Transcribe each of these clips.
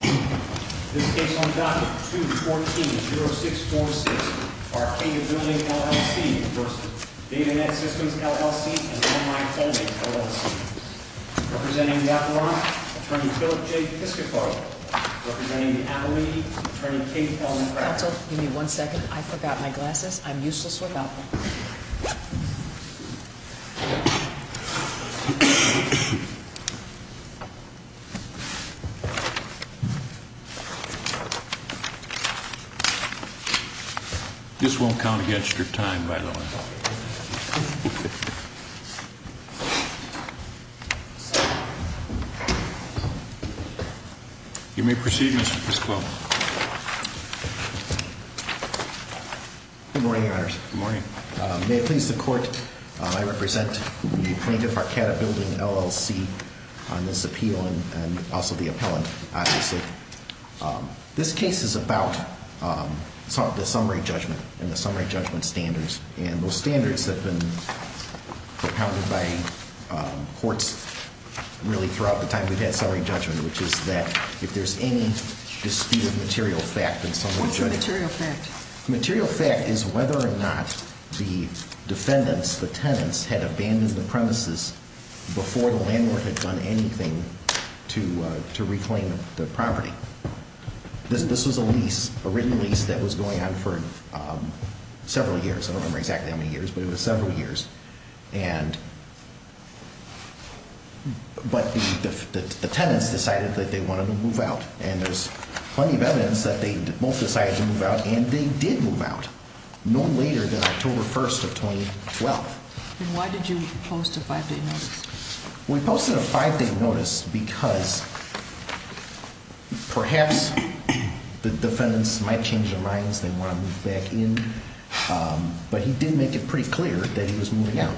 This case on Docket 2-14-0646 for Arcadia Bldg, LLC v. Data Net Systems, LLC and Online Folding, LLC. Representing the operant, Attorney Philip J. Piscopo. Representing the attorney, Attorney Kate L. McGrath. Counsel, give me one second. I forgot my glasses. I'm useless without them. This won't count against your time, by the way. You may proceed, Mr. Piscopo. Good morning, Your Honors. Good morning. May it please the Court, I represent the plaintiff, Arcadia Bldg, LLC, on this appeal and also the appellant, obviously. This case is about the summary judgment and the summary judgment standards. And those standards have been propounded by courts really throughout the time we've had summary judgment, which is that if there's any disputed material fact in summary judgment... What's a material fact? A material fact is whether or not the defendants, the tenants, had abandoned the premises before the landlord had done anything to reclaim the property. This was a lease, a written lease, that was going on for several years. I don't remember exactly how many years, but it was several years. But the tenants decided that they wanted to move out. And there's plenty of evidence that they both decided to move out, and they did move out, no later than October 1st of 2012. And why did you post a 5-day notice? We posted a 5-day notice because perhaps the defendants might change their minds, they want to move back in, but he did make it pretty clear that he was moving out.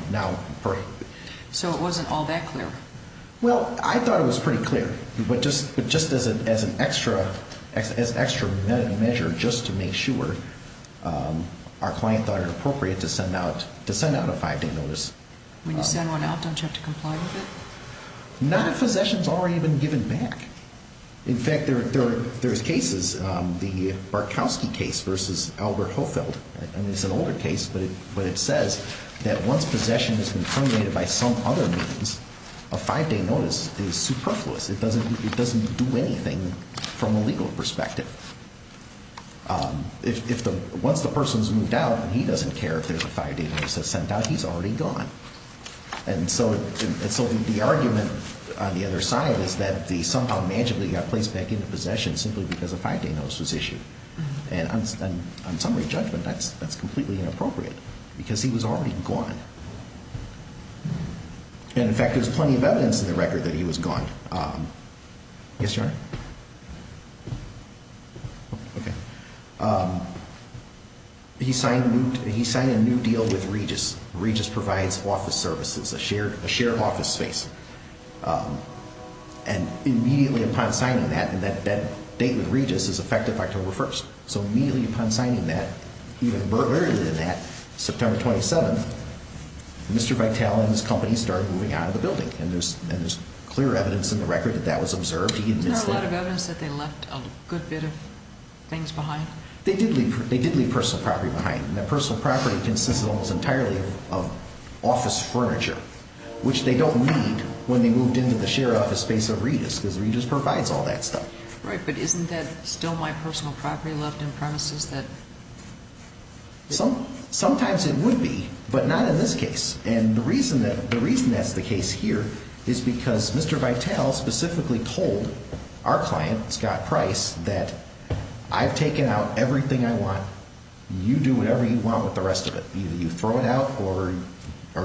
So it wasn't all that clear? Well, I thought it was pretty clear, but just as an extra measure, just to make sure, our client thought it appropriate to send out a 5-day notice. When you send one out, don't you have to comply with it? None of possession has already been given back. In fact, there's cases, the Barkowski case versus Albert Hofeld, I mean, it's an older case, but it says that once possession has been terminated by some other means, a 5-day notice is superfluous. It doesn't do anything from a legal perspective. Once the person's moved out and he doesn't care if there's a 5-day notice sent out, he's already gone. And so the argument on the other side is that they somehow magically got placed back into possession simply because a 5-day notice was issued. And on summary judgment, that's completely inappropriate because he was already gone. And, in fact, there's plenty of evidence in the record that he was gone. Yes, Your Honor? He signed a new deal with Regis. Regis provides office services, a shared office space. And immediately upon signing that, and that date with Regis is effective October 1st, so immediately upon signing that, even earlier than that, September 27th, Mr. Vitale and his company started moving out of the building. And there's clear evidence in the record that that was observed. Isn't there a lot of evidence that they left a good bit of things behind? They did leave personal property behind. And that personal property consists almost entirely of office furniture, which they don't need when they moved into the shared office space of Regis because Regis provides all that stuff. Right, but isn't that still my personal property left in premises? Sometimes it would be, but not in this case. And the reason that's the case here is because Mr. Vitale specifically told our client, Scott Price, that I've taken out everything I want. You do whatever you want with the rest of it. Either you throw it out or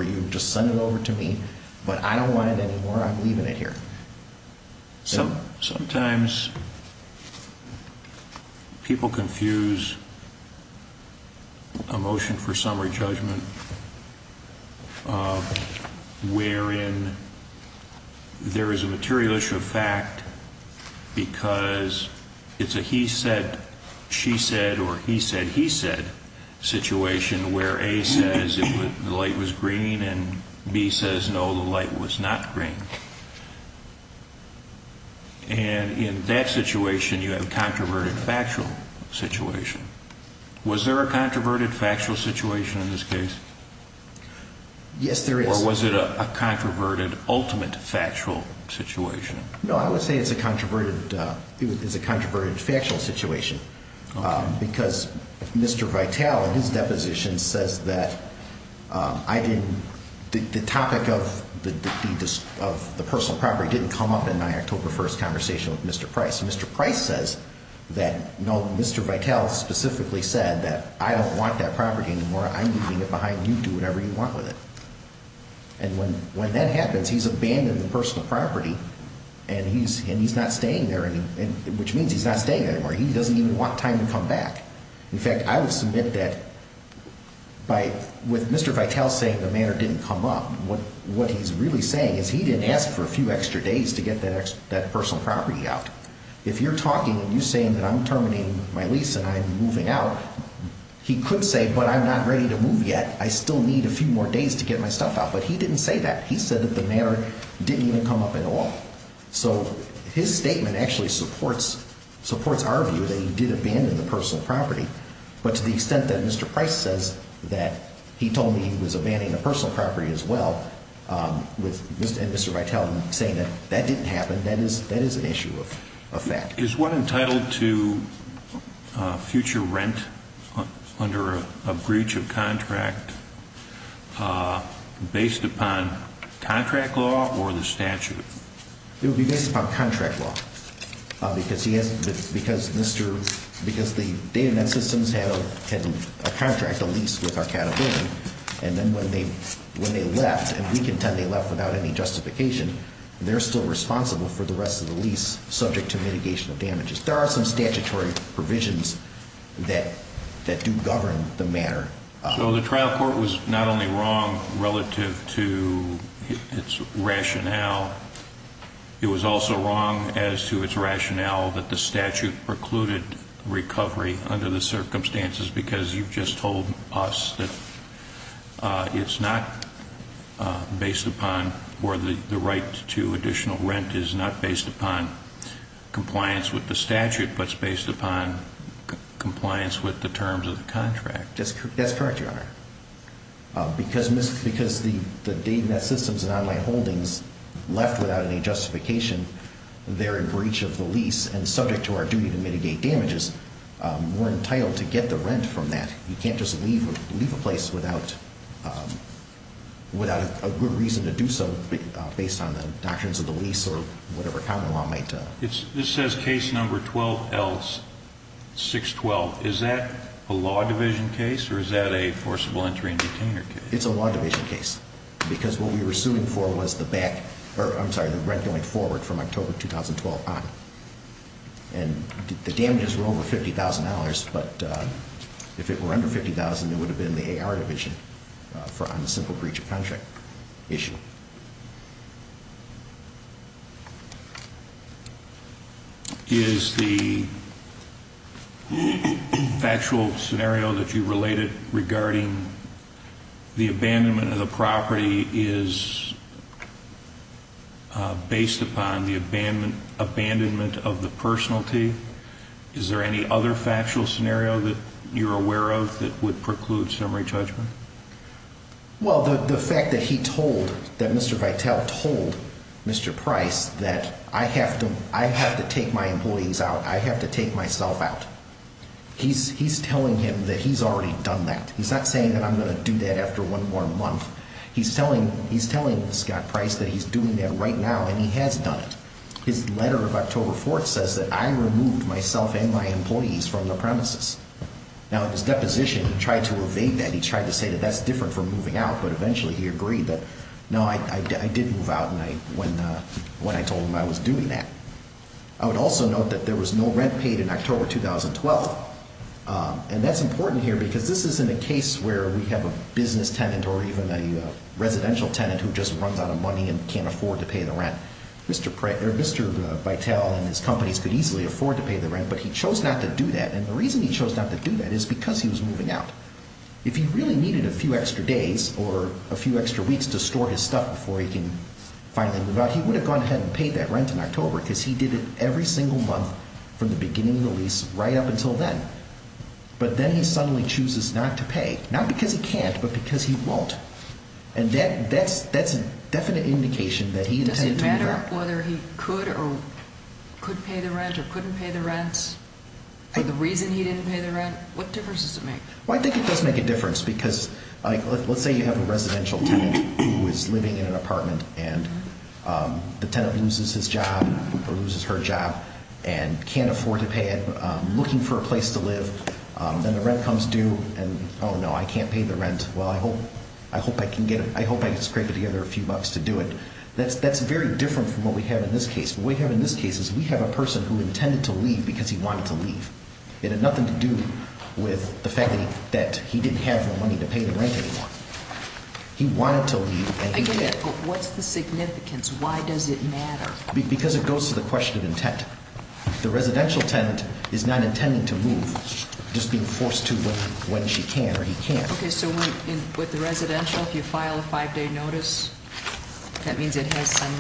you just send it over to me. But I don't want it anymore. I'm leaving it here. Sometimes people confuse a motion for summary judgment wherein there is a material issue of fact because it's a he said, she said, or he said, he said situation where A says the light was green and B says no, the light was not green. And in that situation, you have a controverted factual situation. Was there a controverted factual situation in this case? Yes, there is. Or was it a controverted ultimate factual situation? No, I would say it's a controverted factual situation because Mr. Vitale in his deposition says that the topic of the personal property didn't come up in my October 1st conversation with Mr. Price. Mr. Price says that no, Mr. Vitale specifically said that I don't want that property anymore. I'm leaving it behind. You do whatever you want with it. And when that happens, he's abandoned the personal property and he's not staying there anymore, which means he's not staying there anymore. He doesn't even want time to come back. In fact, I would submit that with Mr. Vitale saying the matter didn't come up, what he's really saying is he didn't ask for a few extra days to get that personal property out. If you're talking and you're saying that I'm terminating my lease and I'm moving out, he could say, but I'm not ready to move yet. I still need a few more days to get my stuff out. But he didn't say that. He said that the matter didn't even come up at all. So his statement actually supports our view that he did abandon the personal property. But to the extent that Mr. Price says that he told me he was abandoning the personal property as well, and Mr. Vitale saying that that didn't happen, that is an issue of fact. Is one entitled to future rent under a breach of contract based upon contract law or the statute? It would be based upon contract law. Because the data net systems had a contract, a lease with Arcata Building, and then when they left, and we contend they left without any justification, they're still responsible for the rest of the lease subject to mitigation of damages. There are some statutory provisions that do govern the matter. So the trial court was not only wrong relative to its rationale, it was also wrong as to its rationale that the statute precluded recovery under the circumstances because you've just told us that it's not based upon or the right to additional rent is not based upon compliance with the statute, but it's based upon compliance with the terms of the contract. That's correct, Your Honor. Because the data net systems and online holdings left without any justification, they're in breach of the lease and subject to our duty to mitigate damages, we're entitled to get the rent from that. You can't just leave a place without a good reason to do so based on the doctrines of the lease or whatever common law might. This says case number 12L612. Is that a law division case or is that a forcible entry and detainer case? It's a law division case because what we were suing for was the back, I'm sorry, the rent going forward from October 2012 on. And the damages were over $50,000, but if it were under $50,000, it would have been the AR division on the simple breach of contract issue. Is the factual scenario that you related regarding the abandonment of the property is based upon the abandonment of the personality? Is there any other factual scenario that you're aware of that would preclude summary judgment? Well, the fact that he told, that Mr. Vitale told Mr. Price that I have to take my employees out, I have to take myself out, he's telling him that he's already done that. He's not saying that I'm going to do that after one more month. He's telling Scott Price that he's doing that right now and he has done it. His letter of October 4th says that I removed myself and my employees from the premises. Now, in his deposition, he tried to evade that. He tried to say that that's different from moving out, but eventually he agreed that, no, I did move out when I told him I was doing that. I would also note that there was no rent paid in October 2012. And that's important here because this isn't a case where we have a business tenant or even a residential tenant who just runs out of money and can't afford to pay the rent. Mr. Vitale and his companies could easily afford to pay the rent, but he chose not to do that. And the reason he chose not to do that is because he was moving out. If he really needed a few extra days or a few extra weeks to store his stuff before he can finally move out, he would have gone ahead and paid that rent in October because he did it every single month from the beginning of the lease right up until then. But then he suddenly chooses not to pay, not because he can't, but because he won't. And that's a definite indication that he intended to do that. Does it matter whether he could or could pay the rent or couldn't pay the rent? For the reason he didn't pay the rent, what difference does it make? Well, I think it does make a difference because, like, let's say you have a residential tenant who is living in an apartment and the tenant loses his job or loses her job and can't afford to pay it, looking for a place to live. Then the rent comes due and, oh, no, I can't pay the rent. Well, I hope I can get it. I hope I can scrape it together a few bucks to do it. That's very different from what we have in this case. What we have in this case is we have a person who intended to leave because he wanted to leave. It had nothing to do with the fact that he didn't have the money to pay the rent anymore. He wanted to leave and he did. Again, what's the significance? Why does it matter? Because it goes to the question of intent. The residential tenant is not intending to move, just being forced to when she can or he can't. Okay, so with the residential, if you file a 5-day notice, that means it has some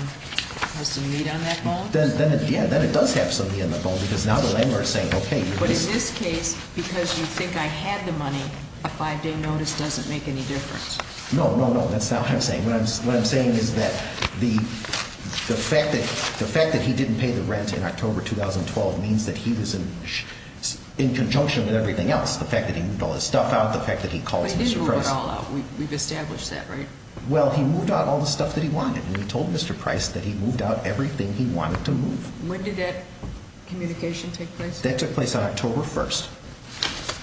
meat on that bone? Yeah, then it does have some meat on that bone because now the landlord is saying, okay. But in this case, because you think I had the money, a 5-day notice doesn't make any difference. No, no, no, that's not what I'm saying. What I'm saying is that the fact that he didn't pay the rent in October 2012 means that he was in conjunction with everything else. The fact that he moved all his stuff out, the fact that he called Mr. Price. But he didn't move it all out. We've established that, right? Well, he moved out all the stuff that he wanted and he told Mr. Price that he moved out everything he wanted to move. When did that communication take place? That took place on October 1st.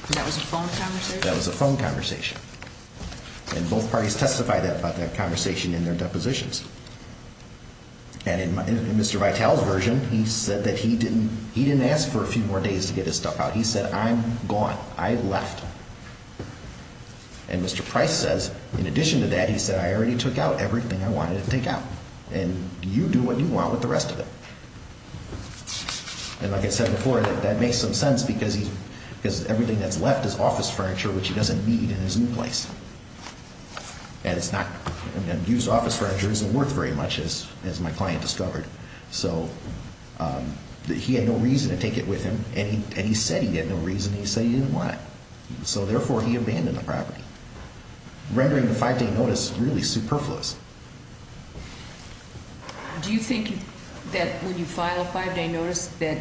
And that was a phone conversation? That was a phone conversation. And both parties testified about that conversation in their depositions. And in Mr. Vitale's version, he said that he didn't ask for a few more days to get his stuff out. He said, I'm gone. I left. And Mr. Price says, in addition to that, he said, I already took out everything I wanted to take out. And you do what you want with the rest of it. And like I said before, that makes some sense because everything that's left is office furniture, which he doesn't need in his new place. And used office furniture isn't worth very much, as my client discovered. So he had no reason to take it with him. And he said he had no reason. He said he didn't want it. So therefore, he abandoned the property, rendering the five-day notice really superfluous. Do you think that when you file a five-day notice that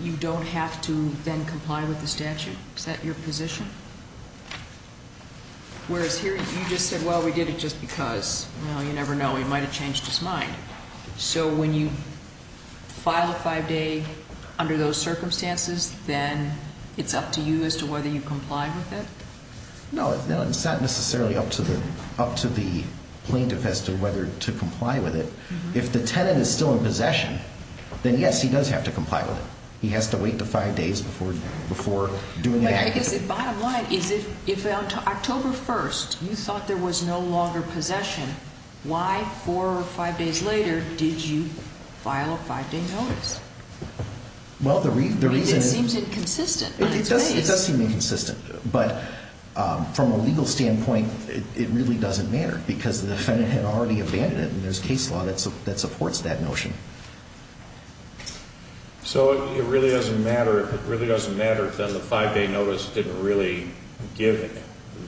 you don't have to then comply with the statute? Is that your position? Whereas here, you just said, well, we did it just because. Well, you never know. He might have changed his mind. So when you file a five-day under those circumstances, then it's up to you as to whether you comply with it? No, it's not necessarily up to the plaintiff as to whether to comply with it. If the tenant is still in possession, then yes, he does have to comply with it. He has to wait the five days before doing the act. But I guess the bottom line is if October 1st you thought there was no longer possession, why four or five days later did you file a five-day notice? Well, the reason is. It seems inconsistent in its ways. It does seem inconsistent. But from a legal standpoint, it really doesn't matter because the defendant had already abandoned it. And there's case law that supports that notion. So it really doesn't matter. If it really doesn't matter, then the five-day notice didn't really give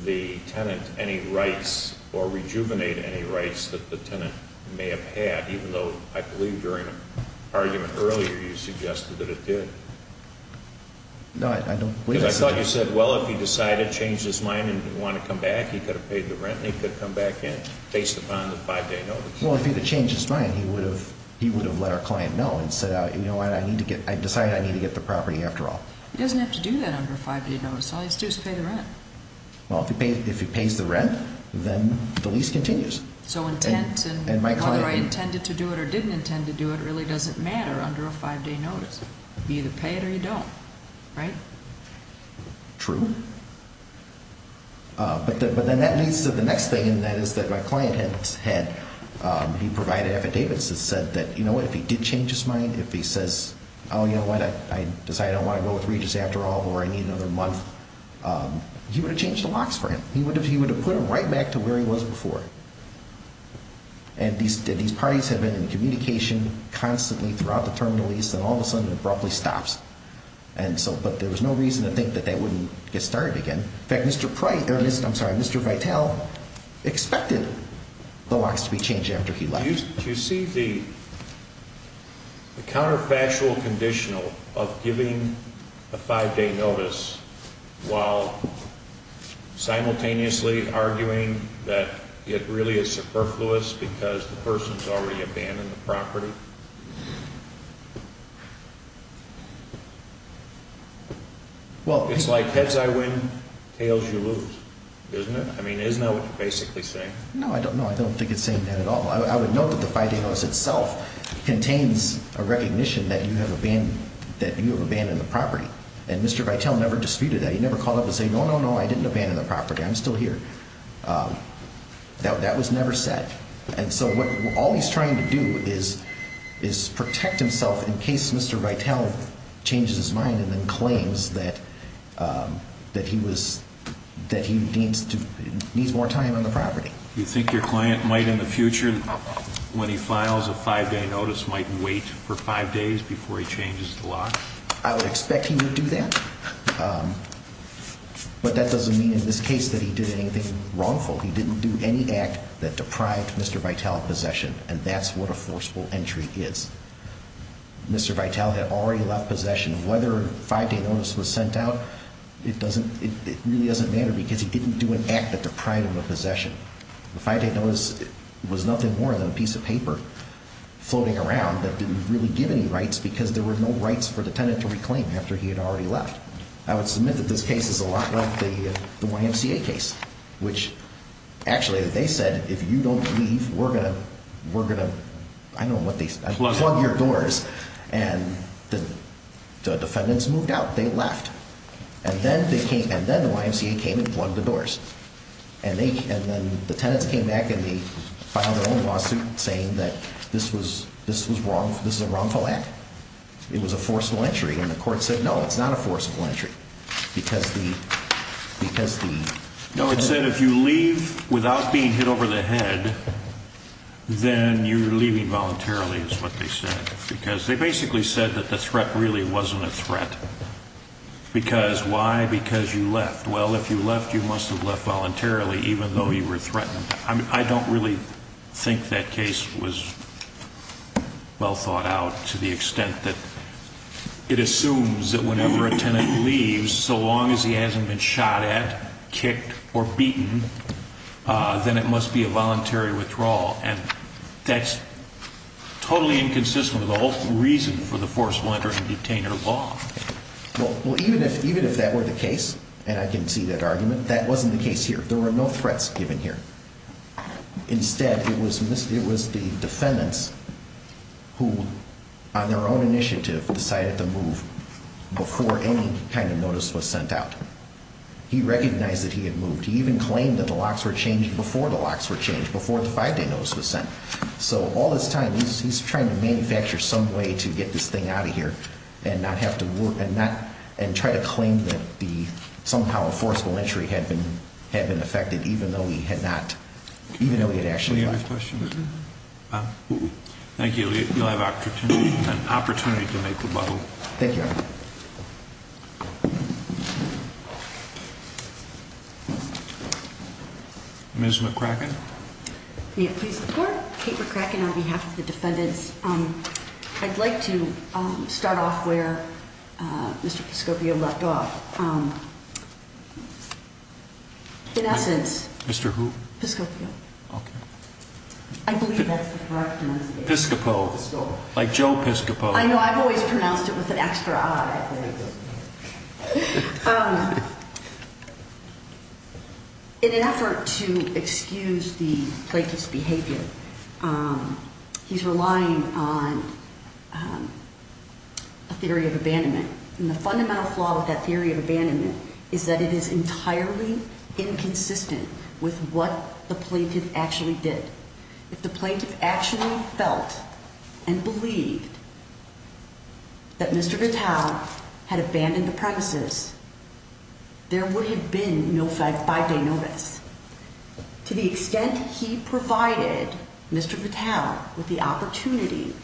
the tenant any rights or rejuvenate any rights that the tenant may have had, even though I believe during an argument earlier you suggested that it did. No, I don't believe that. Because I thought you said, well, if he decided to change his mind and didn't want to come back, he could have paid the rent and he could have come back and faced upon the five-day notice. Well, if he had changed his mind, he would have let our client know and said, you know what, I decided I need to get the property after all. He doesn't have to do that under a five-day notice. All he has to do is pay the rent. Well, if he pays the rent, then the lease continues. So intent and whether I intended to do it or didn't intend to do it really doesn't matter under a five-day notice. You either pay it or you don't, right? True. But then that leads to the next thing, and that is that my client had provided affidavits that said that, you know what, if he did change his mind, if he says, oh, you know what, I decided I don't want to go with Regis after all or I need another month, he would have changed the locks for him. He would have put him right back to where he was before. And these parties have been in communication constantly throughout the term of the lease, and all of a sudden it abruptly stops. But there was no reason to think that that wouldn't get started again. In fact, Mr. Vitell expected the locks to be changed after he left. Do you see the counterfactual conditional of giving a five-day notice while simultaneously arguing that it really is superfluous because the person has already abandoned the property? It's like heads I win, tails you lose, isn't it? I mean, isn't that what you're basically saying? No, I don't know. I don't think it's saying that at all. I would note that the five-day notice itself contains a recognition that you have abandoned the property. And Mr. Vitell never disputed that. He never called up and said, no, no, no, I didn't abandon the property. I'm still here. That was never said. And so all he's trying to do is protect himself in case Mr. Vitell changes his mind and then claims that he needs more time on the property. Do you think your client might in the future, when he files a five-day notice, might wait for five days before he changes the lock? I would expect he would do that. But that doesn't mean in this case that he did anything wrongful. He didn't do any act that deprived Mr. Vitell of possession, and that's what a forcible entry is. Mr. Vitell had already left possession. Whether a five-day notice was sent out, it really doesn't matter because he didn't do an act that deprived him of possession. The five-day notice was nothing more than a piece of paper floating around that didn't really give any rights because there were no rights for the tenant to reclaim after he had already left. I would submit that this case is a lot like the YMCA case, which actually they said if you don't leave, we're going to plug your doors. And the defendants moved out. They left. And then the YMCA came and plugged the doors. And then the tenants came back and they filed their own lawsuit saying that this was a wrongful act. It was a forcible entry. And the court said, no, it's not a forcible entry because the ‑‑ No, it said if you leave without being hit over the head, then you're leaving voluntarily is what they said. Because they basically said that the threat really wasn't a threat. Because why? Because you left. Well, if you left, you must have left voluntarily even though you were threatened. I don't really think that case was well thought out to the extent that it assumes that whenever a tenant leaves, so long as he hasn't been shot at, kicked, or beaten, then it must be a voluntary withdrawal. And that's totally inconsistent with the whole reason for the forcible entry and detainer law. Well, even if that were the case, and I can see that argument, that wasn't the case here. There were no threats given here. Instead, it was the defendants who, on their own initiative, decided to move before any kind of notice was sent out. He recognized that he had moved. He even claimed that the locks were changed before the locks were changed, before the five‑day notice was sent. So all this time, he's trying to manufacture some way to get this thing out of here and try to claim that somehow a forcible entry had been effected, even though he had not, even though he had actually left. Any other questions? Thank you. You'll have an opportunity to make rebuttal. Thank you. Ms. McCracken? May it please the Court? Kate McCracken on behalf of the defendants. I'd like to start off where Mr. Piscopio left off. In essence. Mr. who? Piscopio. Okay. I believe that's the correct pronunciation. Piscopo. Like Joe Piscopo. I know. I've always pronounced it with an extra I. In an effort to excuse the plaintiff's behavior, he's relying on a theory of abandonment. And the fundamental flaw with that theory of abandonment is that it is entirely inconsistent with what the plaintiff actually did. If the plaintiff actually felt and believed that Mr. Gattel had abandoned the premises, there would have been no five-day notice. To the extent he provided Mr. Gattel with the opportunity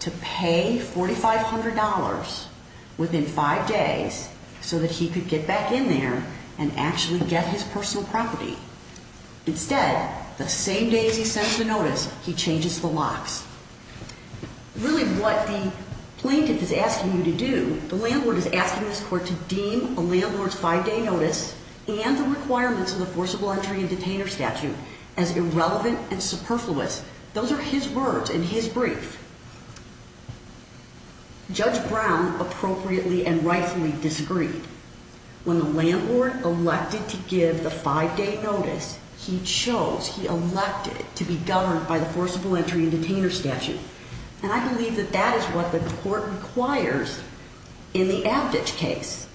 to pay $4,500 within five days so that he could get back in there and actually get his personal property. Instead, the same days he sends the notice, he changes the locks. Really what the plaintiff is asking you to do, the landlord is asking this Court to deem a landlord's five-day notice and the requirements of the forcible entry and detainer statute as irrelevant and superfluous. Those are his words in his brief. Judge Brown appropriately and rightfully disagreed. When the landlord elected to give the five-day notice, he chose, he elected to be governed by the forcible entry and detainer statute. And I believe that that is what the Court requires in the Abditch case.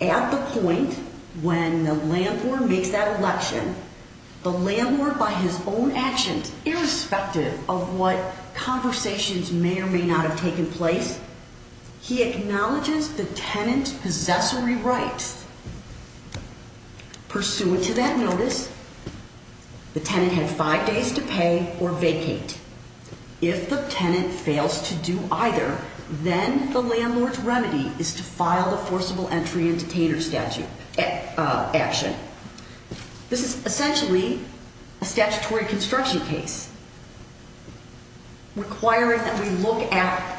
At the point when the landlord makes that election, the landlord, by his own actions, irrespective of what conversations may or may not have taken place, he acknowledges the tenant's possessory rights. Pursuant to that notice, the tenant had five days to pay or vacate. If the tenant fails to do either, then the landlord's remedy is to file the forcible entry and detainer statute action. This is essentially a statutory construction case requiring that we look at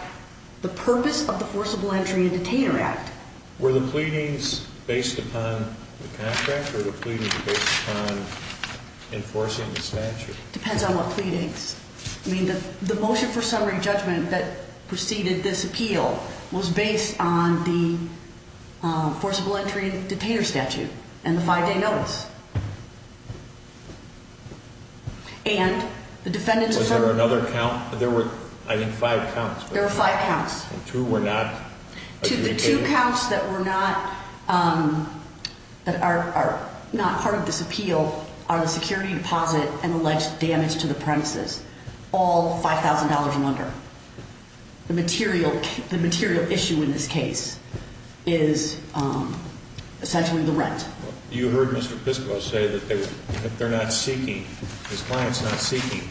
the purpose of the forcible entry and detainer act. Were the pleadings based upon the contract or were the pleadings based upon enforcing the statute? Depends on what pleadings. I mean, the motion for summary judgment that preceded this appeal was based on the forcible entry and detainer statute and the five-day notice. And the defendants- Was there another count? There were, I think, five counts. There were five counts. And two were not- To the two counts that were not part of this appeal are the security deposit and alleged damage to the premises, all $5,000 and under. The material issue in this case is essentially the rent. You heard Mr. Pisco say that they're not seeking, his client's not seeking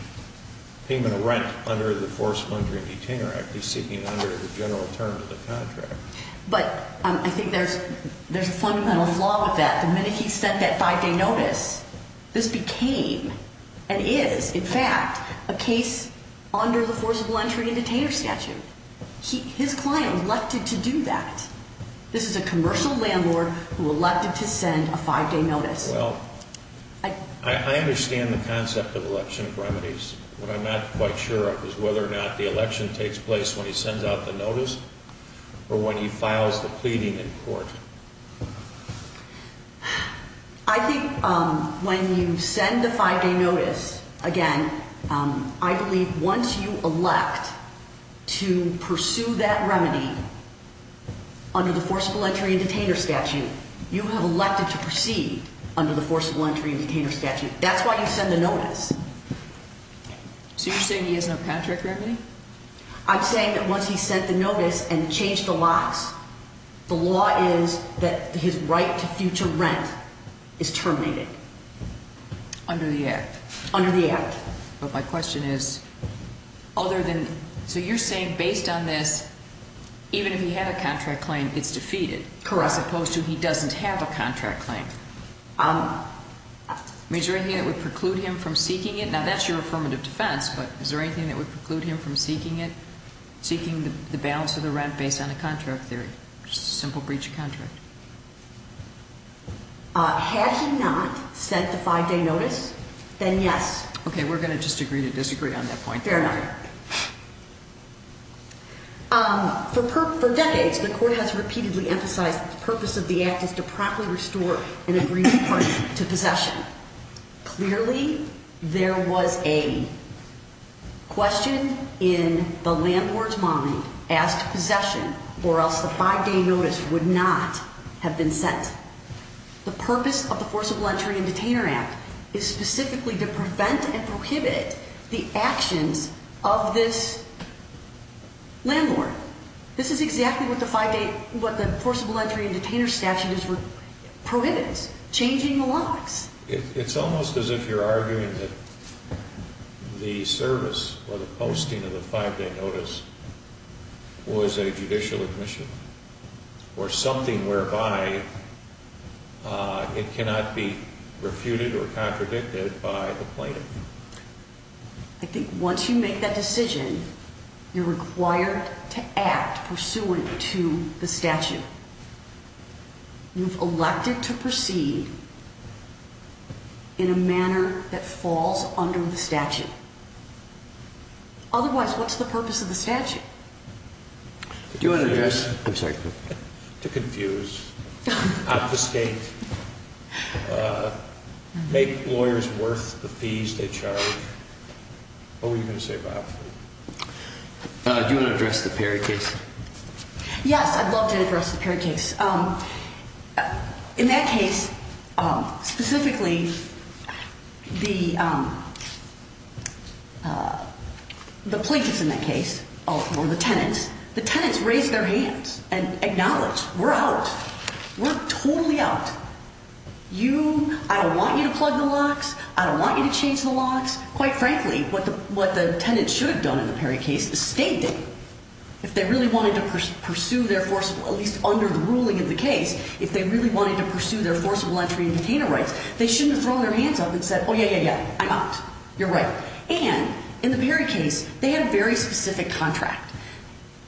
payment of rent under the forcible entry and detainer act. He's seeking it under the general terms of the contract. But I think there's a fundamental flaw with that. The minute he sent that five-day notice, this became and is, in fact, a case under the forcible entry and detainer statute. His client elected to do that. This is a commercial landlord who elected to send a five-day notice. Well, I understand the concept of election remedies. What I'm not quite sure of is whether or not the election takes place when he sends out the notice or when he files the pleading in court. I think when you send a five-day notice, again, I believe once you elect to pursue that remedy under the forcible entry and detainer statute, you have elected to proceed under the forcible entry and detainer statute. That's why you send the notice. So you're saying he has no contract remedy? I'm saying that once he sent the notice and changed the laws. The law is that his right to future rent is terminated. Under the Act? Under the Act. But my question is, other than – so you're saying based on this, even if he had a contract claim, it's defeated? Correct. As opposed to he doesn't have a contract claim. Is there anything that would preclude him from seeking it? Just a simple breach of contract. Had he not sent the five-day notice, then yes. Okay, we're going to just agree to disagree on that point. Fair enough. For decades, the Court has repeatedly emphasized that the purpose of the Act is to promptly restore an agreement to possession. Clearly, there was a question in the landlord's mind as to possession or else the five-day notice would not have been sent. The purpose of the forcible entry and detainer act is specifically to prevent and prohibit the actions of this landlord. This is exactly what the forcible entry and detainer statute prohibits, changing the laws. It's almost as if you're arguing that the service or the posting of the five-day notice was a judicial admission or something whereby it cannot be refuted or contradicted by the plaintiff. I think once you make that decision, you're required to act pursuant to the statute. You've elected to proceed in a manner that falls under the statute. Otherwise, what's the purpose of the statute? Do you want to address? I'm sorry. To confuse, obfuscate, make lawyers worth the fees they charge. What were you going to say, Bob? Do you want to address the Perry case? Yes, I'd love to address the Perry case. In that case, specifically, the plaintiffs in that case or the tenants, the tenants raised their hands and acknowledged, we're out. We're totally out. I don't want you to plug the locks. Quite frankly, what the tenants should have done in the Perry case is stated. If they really wanted to pursue their forcible, at least under the ruling of the case, if they really wanted to pursue their forcible entry and detainer rights, they shouldn't have thrown their hands up and said, oh, yeah, yeah, yeah. I'm out. You're right. And in the Perry case, they had a very specific contract.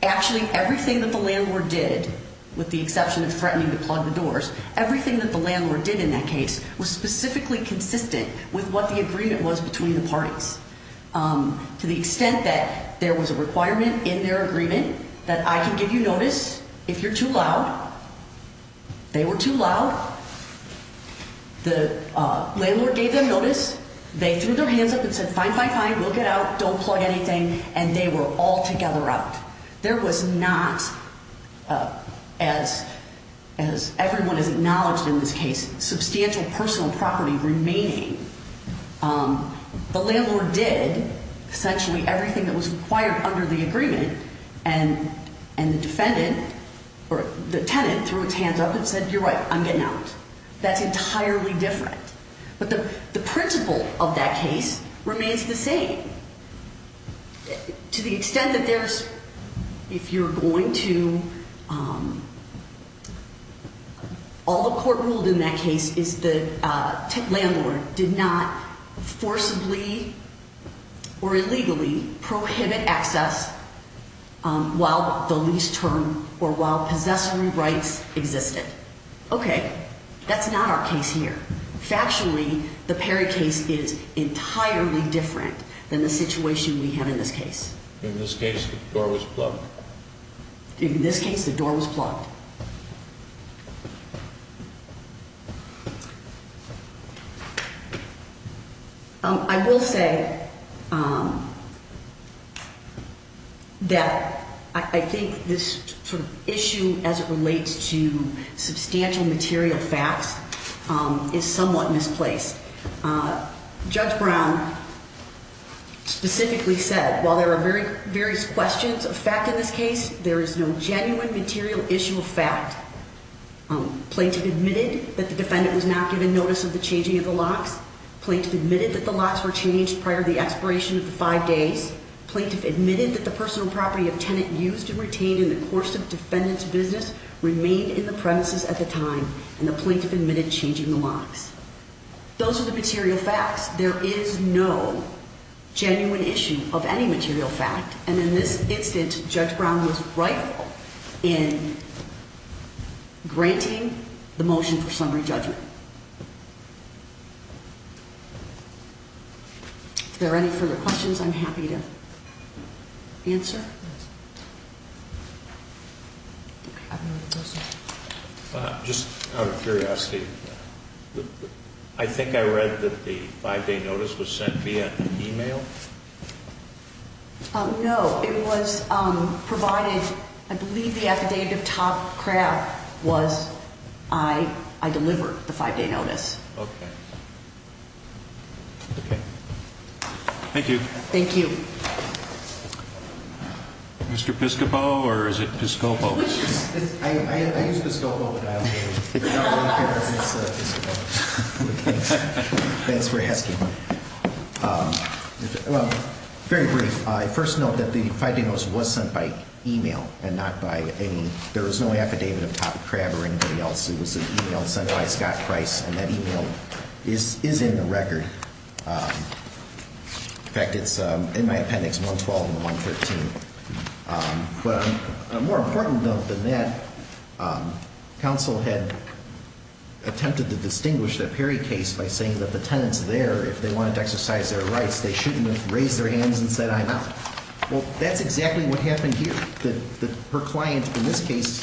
Actually, everything that the landlord did, with the exception of threatening to plug the doors, everything that the landlord did in that case was specifically consistent with what the agreement was between the parties, to the extent that there was a requirement in their agreement that I can give you notice if you're too loud. They were too loud. The landlord gave them notice. They threw their hands up and said, fine, fine, fine. We'll get out. Don't plug anything. And they were all together out. There was not, as everyone has acknowledged in this case, substantial personal property remaining. The landlord did essentially everything that was required under the agreement, and the defendant or the tenant threw its hands up and said, you're right, I'm getting out. That's entirely different. But the principle of that case remains the same, to the extent that there's, if you're going to, all the court ruled in that case is the landlord did not forcibly or illegally prohibit access while the lease term or while possessory rights existed. Okay. That's not our case here. Factually, the Perry case is entirely different than the situation we have in this case. In this case, the door was plugged. In this case, the door was plugged. I will say that I think this sort of issue as it relates to substantial material facts is somewhat misplaced. Judge Brown specifically said, while there are various questions of fact in this case, there is no genuine material issue of fact. Plaintiff admitted that the defendant was not given notice of the changing of the locks. Plaintiff admitted that the locks were changed prior to the expiration of the five days. Plaintiff admitted that the personal property of tenant used and retained in the course of defendant's business remained in the premises at the time, and the plaintiff admitted changing the locks. Those are the material facts. There is no genuine issue of any material fact, and in this instance, Judge Brown was rightful in granting the motion for summary judgment. If there are any further questions, I'm happy to answer. Just out of curiosity, I think I read that the five day notice was sent via email? No, it was provided. I believe the affidavit of Todd Kraft was, I delivered the five day notice. Okay. Okay. Thank you. Thank you. Mr. Piscopo, or is it Piscopo? I used Piscopo, but I don't really care if it's Piscopo. Thanks for asking. Well, very brief. I first note that the five day notice was sent by email and not by any, there was no affidavit of Todd Kraft or anybody else. It was an email sent by Scott Price, and that email is in the record. In fact, it's in my appendix, 112 and 113. But a more important note than that, counsel had attempted to distinguish the Perry case by saying that the tenants there, if they wanted to exercise their rights, they shouldn't have raised their hands and said I'm out. Well, that's exactly what happened here, that her client in this case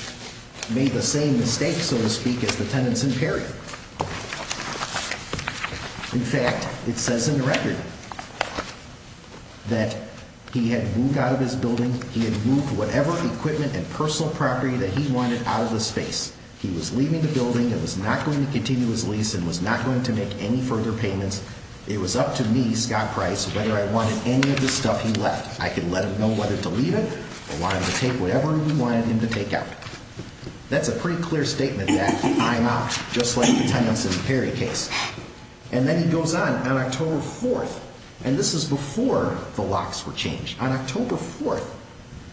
made the same mistake, so to speak, as the tenants in Perry. In fact, it says in the record that he had moved out of his building, he had moved whatever equipment and personal property that he wanted out of the space. He was leaving the building and was not going to continue his lease and was not going to make any further payments. It was up to me, Scott Price, whether I wanted any of the stuff he left. I could let him know whether to leave it or want him to take whatever we wanted him to take out. That's a pretty clear statement that I'm out, just like the tenants in the Perry case. And then he goes on on October 4th, and this is before the locks were changed. On October 4th,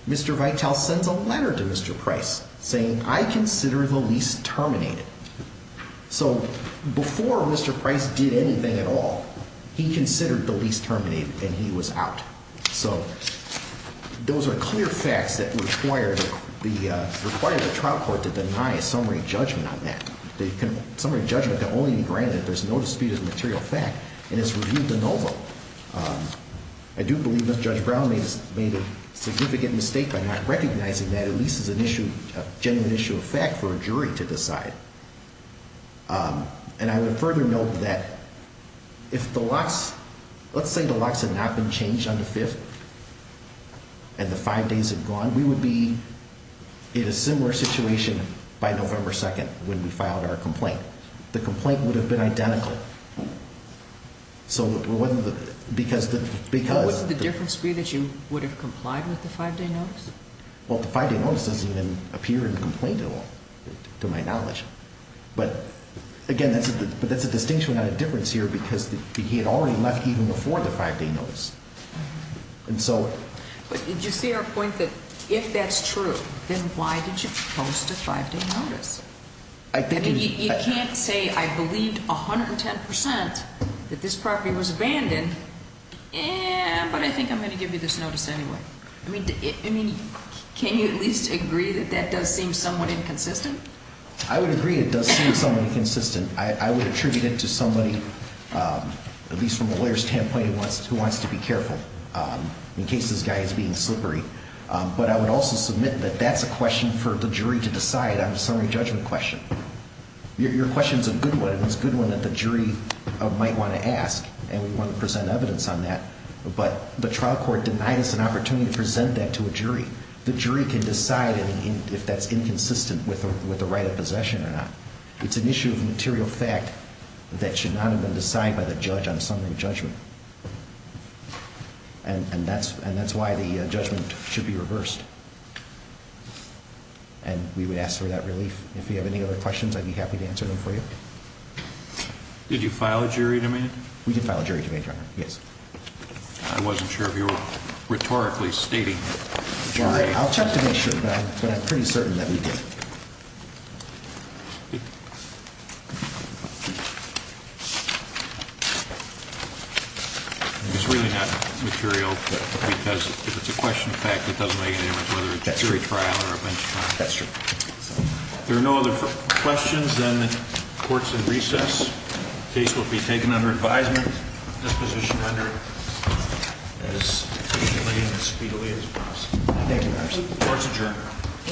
Mr. Vitale sends a letter to Mr. Price saying I consider the lease terminated. So before Mr. Price did anything at all, he considered the lease terminated and he was out. So those are clear facts that require the trial court to deny a summary judgment on that. A summary judgment can only be granted if there's no dispute of the material fact and it's reviewed de novo. I do believe that Judge Brown made a significant mistake by not recognizing that at least as a genuine issue of fact for a jury to decide. And I would further note that if the locks, let's say the locks had not been changed on the 5th and the five days had gone, we would be in a similar situation by November 2nd when we filed our complaint. The complaint would have been identical. So it wasn't because the, because... What would the difference be that you would have complied with the five-day notice? Well, the five-day notice doesn't even appear in the complaint at all, to my knowledge. But again, that's a distinction, not a difference here because he had already left even before the five-day notice. And so... But did you see our point that if that's true, then why did you post a five-day notice? I think... You can't say I believed 110% that this property was abandoned, but I think I'm going to give you this notice anyway. I mean, can you at least agree that that does seem somewhat inconsistent? I would agree it does seem somewhat inconsistent. I would attribute it to somebody, at least from a lawyer's standpoint, who wants to be careful in case this guy is being slippery. But I would also submit that that's a question for the jury to decide on a summary judgment question. Your question is a good one, and it's a good one that the jury might want to ask, and we want to present evidence on that. But the trial court denied us an opportunity to present that to a jury. The jury can decide if that's inconsistent with the right of possession or not. It's an issue of material fact that should not have been decided by the judge on a summary judgment. And that's why the judgment should be reversed. And we would ask for that relief. If you have any other questions, I'd be happy to answer them for you. Did you file a jury demand? We did file a jury demand, Your Honor. Yes. I wasn't sure if you were rhetorically stating a jury demand. I'll check to make sure, but I'm pretty certain that we did. It's really not material because if it's a question of fact, it doesn't make any difference whether it's a jury trial or a bench trial. That's true. If there are no other questions, then the court's in recess. Case will be taken under advisement. Disposition under as easily and as speedily as possible. Thank you, Your Honor. Court's adjourned.